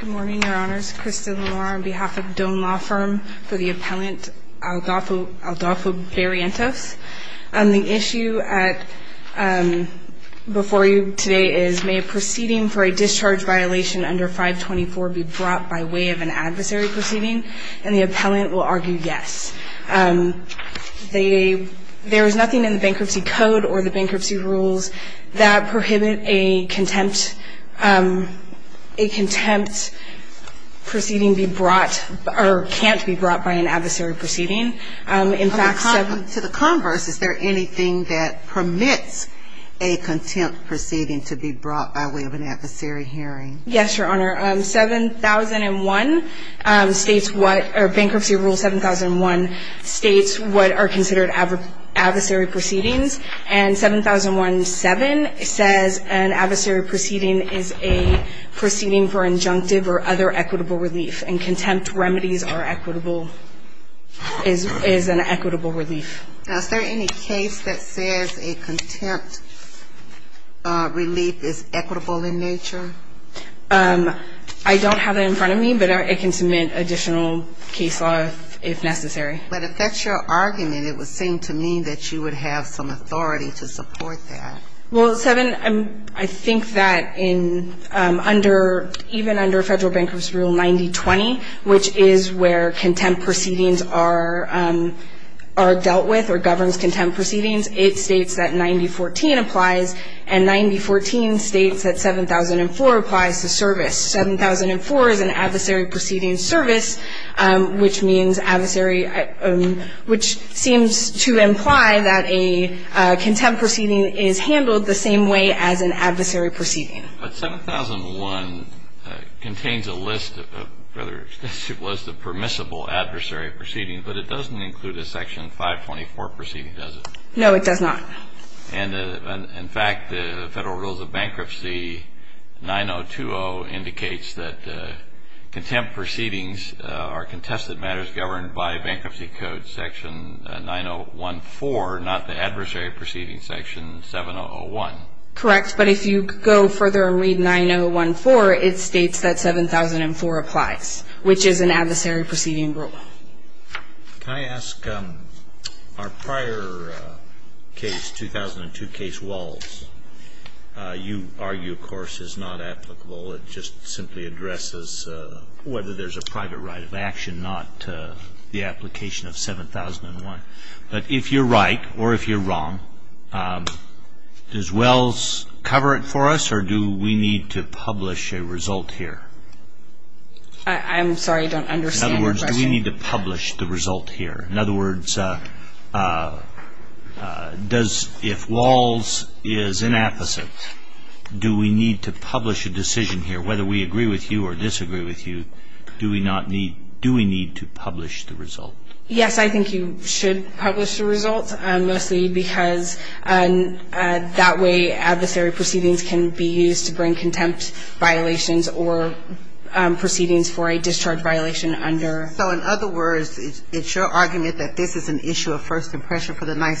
Good morning, Your Honors. Krista Lelora on behalf of Doan Law Firm for the appellant, Adolfo Barrientos. The issue before you today is, may a proceeding for a discharge violation under 524 be brought by way of an adversary proceeding? And the appellant will argue yes. There is nothing in the bankruptcy code or the bankruptcy rules that prohibit a contempt proceeding be brought, or can't be brought by an adversary proceeding. In fact, 7- To the converse, is there anything that permits a contempt proceeding to be brought by way of an adversary hearing? Yes, Your Honor. 7001 states what, or Bankruptcy Rule 7001 states what are considered adversary proceedings. And 7001-7 says an adversary proceeding is a proceeding for injunctive or other equitable relief. And contempt remedies are equitable, is an equitable relief. Now, is there any case that says a contempt relief is equitable in nature? I don't have it in front of me, but it can submit additional case law if necessary. But if that's your argument, it would have some authority to support that. Well, 7, I think that even under Federal Bankruptcy Rule 9020, which is where contempt proceedings are dealt with or governs contempt proceedings, it states that 9014 applies. And 9014 states that 7004 applies to service. 7004 is an adversary proceeding service, which means adversary, which seems to imply that a contempt proceeding is handled the same way as an adversary proceeding. But 7001 contains a list of permissible adversary proceedings, but it doesn't include a Section 524 proceeding, does it? No, it does not. And in fact, the Federal Rules of Bankruptcy 9020 indicates that contempt proceedings are contested matters governed by Bankruptcy Code Section 9014, not the adversary proceeding Section 7001. Correct, but if you go further and read 9014, it states that 7004 applies, which is an adversary proceeding rule. Can I ask, our prior case, 2002 case Walls, you argue, of course, is not applicable. It just simply addresses whether there's a private right of action, not the application of 7001. But if you're right or if you're wrong, does Wells cover it for us, or do we need to publish a result here? I'm sorry, I don't understand your question. In other words, do we need to publish the result here? In other words, if Walls is inapposite, do we need to publish a decision here? Whether we agree with you or disagree with you, do we need to publish the result? Yes, I think you should publish the result, mostly because that way adversary proceedings can be used to bring contempt violations or proceedings for a discharge violation under. So in other words, it's your argument that this is an issue of first impression for the Ninth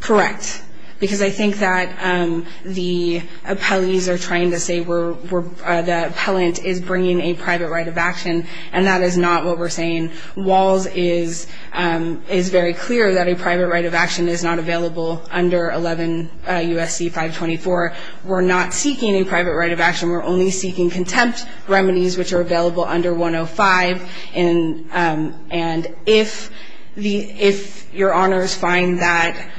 Correct, because I think that the appellees are trying to say the appellant is bringing a private right of action. And that is not what we're saying. Walls is very clear that a private right of action is not available under 11 USC 524. We're not seeking a private right of action. We're only seeking contempt remedies, which are available under 105. And if your honors find that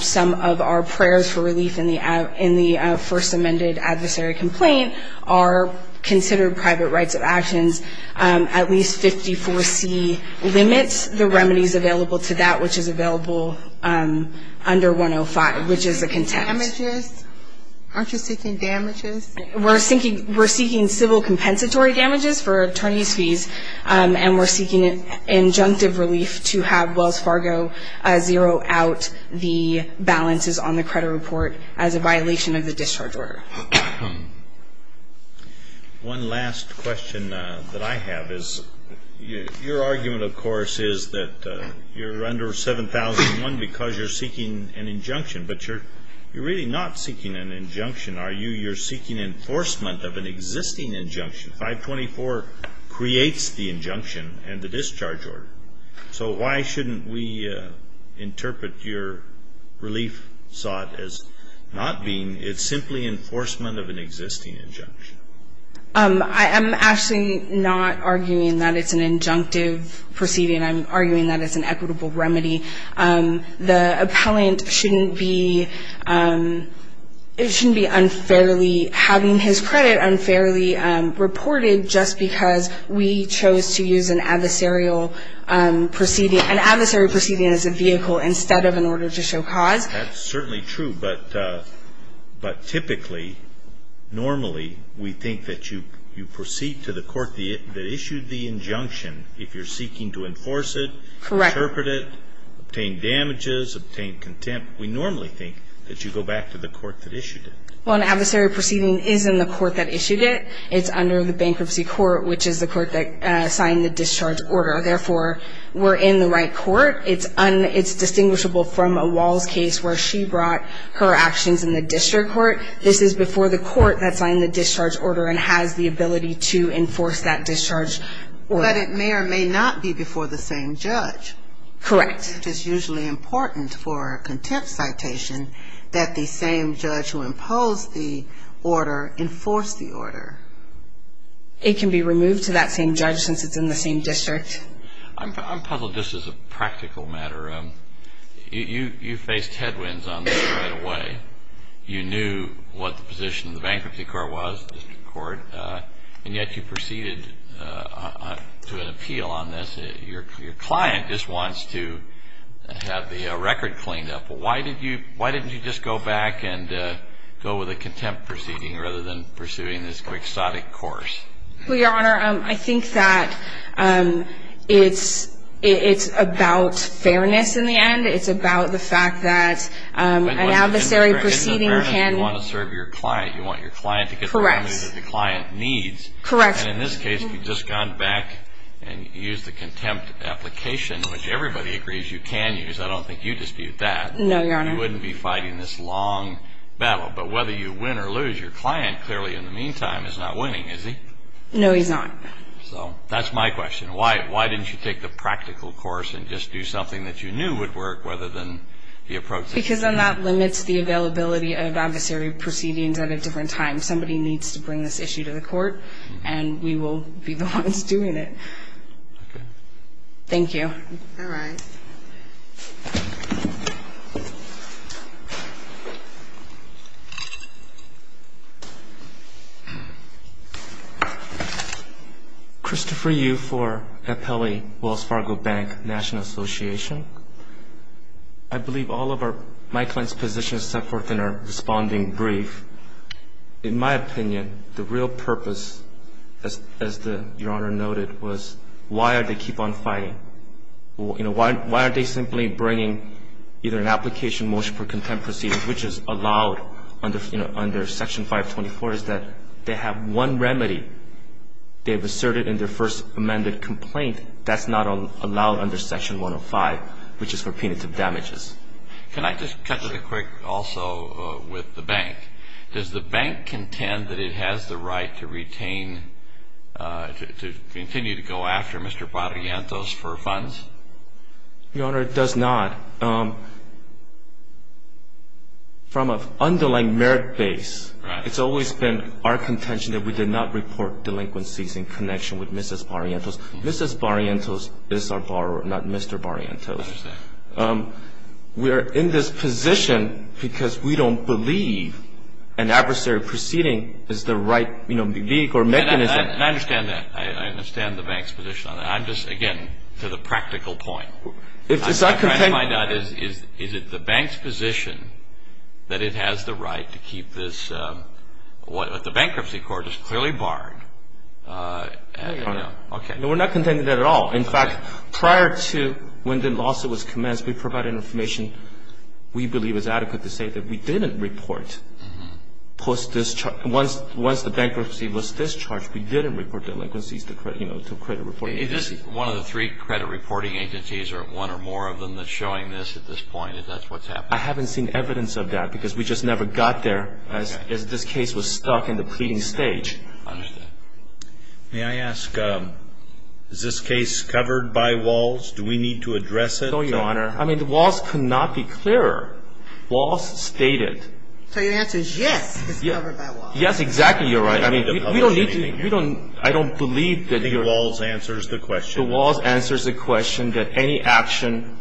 some of our prayers for relief in the first amended adversary complaint are considered private rights of actions, at least 54C limits the remedies available to that, which is available under 105, which is a contempt. Aren't you seeking damages? We're seeking civil compensatory damages for attorney's fees. And we're seeking injunctive relief to have Wells Fargo zero out the balances on the credit report as a violation of the discharge order. One last question that I have is your argument, of course, is that you're under 7001 because you're seeking an injunction. But you're really not seeking an injunction, are you? You're seeking enforcement of an existing injunction. 524 creates the injunction and the discharge order. So why shouldn't we interpret your relief sought as not being, it's simply enforcement of an existing injunction? I am actually not arguing that it's an injunctive proceeding. I'm arguing that it's an equitable remedy. The appellant shouldn't be unfairly having his credit unfairly reported just because we chose to use an adversarial proceeding, an adversary proceeding as a vehicle instead of an order to show cause. That's certainly true. But typically, normally, we think that you proceed to the court that issued the injunction if you're seeking to enforce it, interpret it, obtain damages, obtain contempt. We normally think that you go back to the court that issued it. Well, an adversary proceeding is in the court that issued it. It's under the bankruptcy court, which is the court that signed the discharge order. Therefore, we're in the right court. It's distinguishable from a Walls case where she brought her actions in the district court. This is before the court that signed the discharge order and has the ability to enforce that discharge order. But it may or may not be before the same judge. Correct. Which is usually important for a contempt citation that the same judge who imposed the order enforce the order. It can be removed to that same judge since it's in the same district. I'm puzzled just as a practical matter. You faced headwinds on this right away. You knew what the position of the bankruptcy court was, the district court. And yet, you proceeded to an appeal on this. Your client just wants to have the record cleaned up. Why didn't you just go back and go with a contempt proceeding rather than pursuing this quixotic course? Well, Your Honor, I think that it's about fairness in the end. It's about the fact that an adversary proceeding can You want to serve your client. You want your client to get the remedy that the client needs. Correct. In this case, you've just gone back and used the contempt application, which everybody agrees you can use. I don't think you dispute that. No, Your Honor. You wouldn't be fighting this long battle. But whether you win or lose, your client, clearly, in the meantime, is not winning, is he? No, he's not. So that's my question. Why didn't you take the practical course and just do something that you knew would work rather than the approach that you took? Because then that limits the availability of adversary proceedings at a different time. Somebody needs to bring this issue to the court, and we will be the ones doing it. Thank you. All right. Thank you. Christopher Yu for Appellee Wells Fargo Bank National Association. I believe all of my client's positions set forth in our responding brief. In my opinion, the real purpose, as Your Honor noted, was why are they keep on fighting? Why aren't they simply bringing either an application motion for contempt proceedings, which is allowed under Section 524, is that they have one remedy. They've asserted in their first amended complaint that's not allowed under Section 105, which is for punitive damages. Can I just cut to the quick also with the bank? Does the bank contend that it has the right to retain, to continue to go after Mr. Barrientos for funds? Your Honor, it does not. From an underlying merit base, it's always been our contention that we did not report delinquencies in connection with Mrs. Barrientos. Mrs. Barrientos is our borrower, not Mr. Barrientos. We are in this position because we don't believe an adversary proceeding is the right vehicle or mechanism. I understand that. I understand the bank's position on that. I'm just, again, to the practical point. It's not contending. I'm trying to find out, is it the bank's position that it has the right to keep this? The bankruptcy court is clearly barred. I don't know. OK. No, we're not contending that at all. In fact, prior to when the lawsuit was commenced, we provided information we believe is adequate to say that we didn't report post-discharge. Once the bankruptcy was discharged, we didn't report delinquencies to credit reporting agencies. Is this one of the three credit reporting agencies, or one or more of them, that's showing this at this point? Is that what's happening? I haven't seen evidence of that because we just never got there as this case was stuck in the pleading stage. I understand. May I ask, is this case covered by walls? Do we need to address it? No, Your Honor. I mean, the walls could not be clearer. Walls stated. So your answer is yes, it's covered by walls. Yes, exactly. You're right. I mean, we don't need to. We don't. I don't believe that the walls answers the question. The walls answers the question that any action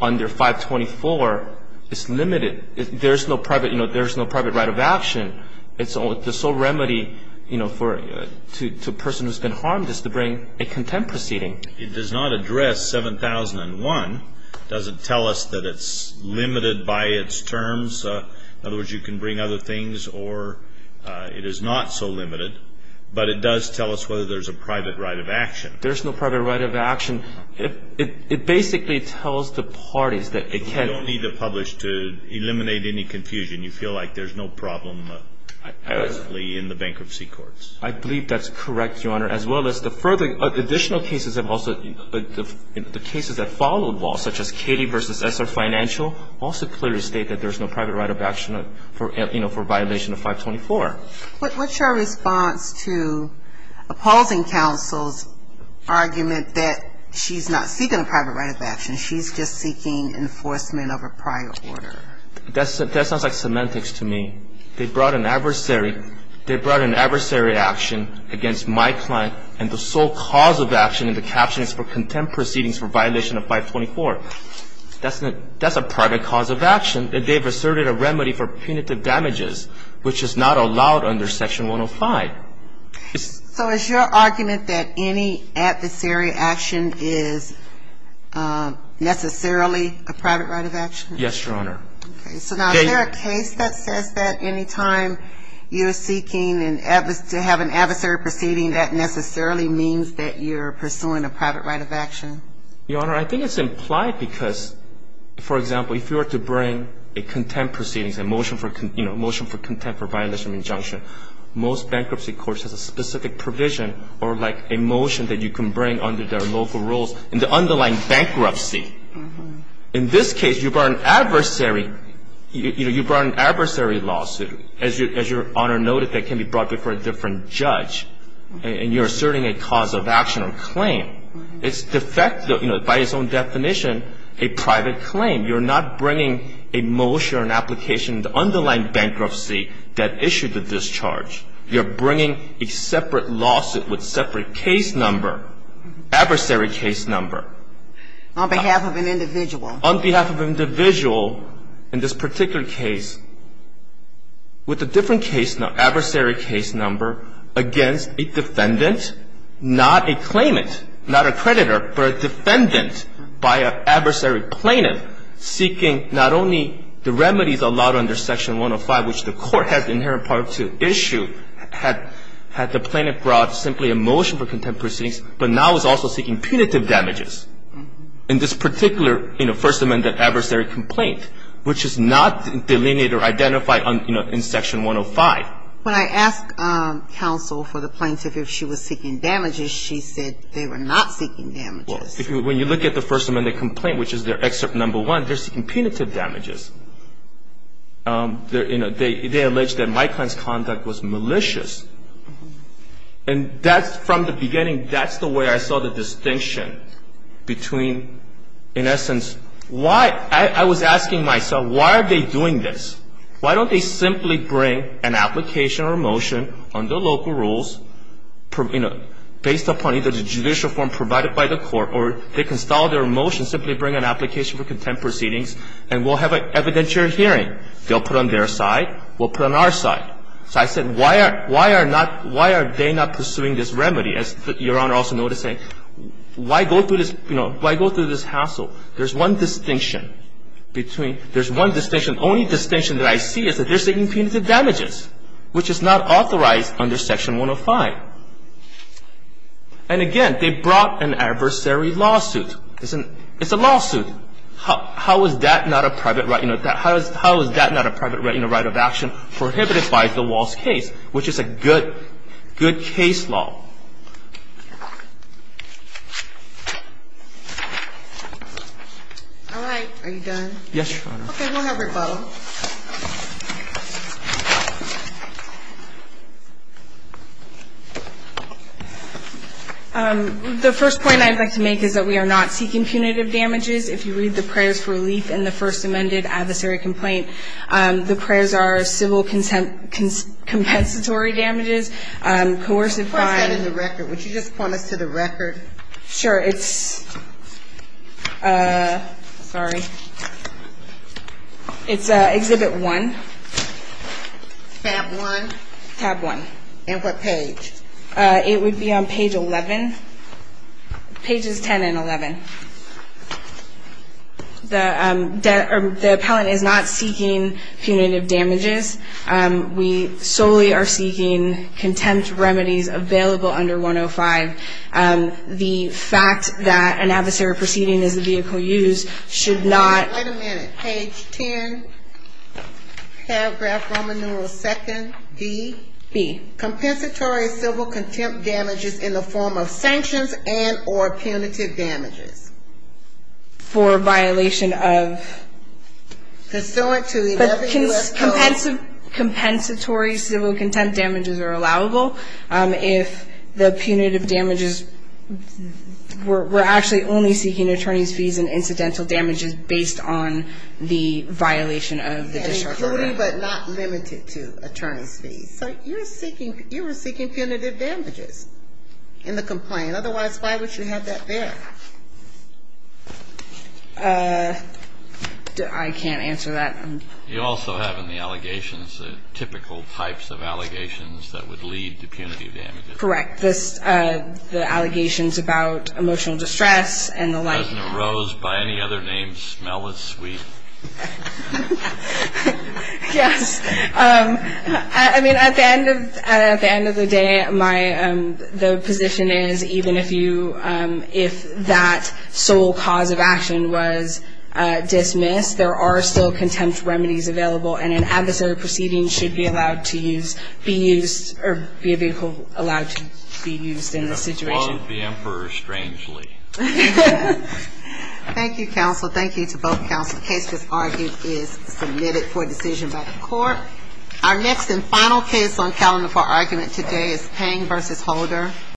under 524 is limited. There's no private right of action. It's the sole remedy to a person who's been harmed is to bring a contempt proceeding. It does not address 7001. It doesn't tell us that it's limited by its terms. In other words, you can bring other things, or it is not so limited. But it does tell us whether there's a private right of action. There's no private right of action. It basically tells the parties that it can't. You don't need to publish to eliminate any confusion. You feel like there's no problem, basically, in the bankruptcy courts. I believe that's correct, Your Honor, as well as the further additional cases that have also, the cases that follow the wall, such as Katie versus SR Financial, also clearly state that there's no private right of action for violation of 524. What's your response to opposing counsel's argument that she's not seeking a private right of action? She's just seeking enforcement of a prior order. That sounds like semantics to me. They brought an adversary. They brought an adversary action against my client. And the sole cause of action in the caption is for contempt proceedings for violation of 524. That's a private cause of action. And they've asserted a remedy for punitive damages, which is not allowed under Section 105. So is your argument that any adversary action is necessarily a private right of action? Yes, Your Honor. So now, is there a case that says that any time you are seeking to have an adversary proceeding that necessarily means that you're pursuing a private right of action? Your Honor, I think it's implied because, for example, if you were to bring a contempt proceedings, a motion for contempt for violation of injunction, most bankruptcy courts have a specific provision or a motion that you can bring under their local rules in the underlying bankruptcy. In this case, you brought an adversary lawsuit, as Your Honor noted, that can be brought before a different judge. And you're asserting a cause of action or claim. It's de facto, by its own definition, a private claim. You're not bringing a motion or an application in the underlying bankruptcy that issued the discharge. You're bringing a separate lawsuit with separate case number, adversary case number. On behalf of an individual. On behalf of an individual, in this particular case, with a different adversary case number against a defendant, not a claimant, not a creditor, but a defendant by an adversary plaintiff, seeking not only the remedies allowed under Section 105, which the court has inherent power to issue, had the plaintiff brought simply a motion for contempt proceedings, but now is also seeking punitive damages. In this particular First Amendment adversary complaint, which is not delineated or identified in Section 105. When I asked counsel for the plaintiff if she was seeking damages, she said they were not seeking damages. When you look at the First Amendment complaint, which is their excerpt number one, they're seeking punitive damages. They allege that my client's conduct was malicious. And that's, from the beginning, that's the way I saw the distinction between, in essence, why, I was asking myself, why are they doing this? Why don't they simply bring an application or motion under local rules, based upon either the judicial form provided by the court, or they can stall their motion, simply bring an application for contempt proceedings, and we'll have an evidentiary hearing. They'll put it on their side, we'll put it on our side. So I said, why are they not pursuing this remedy? As Your Honor also noted, saying, why go through this hassle? There's one distinction between, there's one distinction, the only distinction that I see is that they're seeking punitive damages, which is not authorized under Section 105. And again, they brought an adversary lawsuit. It's a lawsuit. How is that not a private right of action prohibited by the Walsh case, which is a good case law? All right, are you done? Yes, Your Honor. Okay, we'll have your vote. The first point I'd like to make is that we are not seeking punitive damages. If you read the prayers for relief in the first amended adversary complaint, coercive fines, First sentence of the first amendment, and the record, would you just point us to the record? Sure, it's, sorry. It's Exhibit 1. Tab 1. Tab 1. And what page? It would be on page 11. Pages 10 and 11. The appellant is not seeking punitive damages. We solely are seeking contempt remedies available under 105. The fact that an adversary proceeding is a vehicle used should not. Wait a minute, page 10, paragraph Roman numeral 2nd, D? B. Compensatory civil contempt damages in the form of sanctions and or punitive damages. For violation of? Consummate to 11 U.S. codes. Compensatory civil contempt damages are allowable. If the punitive damages, we're actually only seeking attorney's fees and incidental damages based on the violation of the district program. And including but not limited to attorney's fees. So you're seeking, you were seeking punitive damages in the complaint. Otherwise, why would you have that there? I can't answer that. You also have in the allegations the typical types of allegations that would lead to punitive damages. Correct. This, the allegations about emotional distress and the like. President Rose, by any other name, smell is sweet. Yes. I mean, at the end of the day, my, the position is even if you, if that sole cause of action was dismissed, there are still contempt remedies available and an adversary proceeding should be allowed to use, be used, or be allowed to be used in this situation. Love the emperor strangely. Thank you, counsel. Thank you to both counsel. Case disargued is submitted for decision by the court. Our next and final case on calendar for argument today is Pang versus Holder.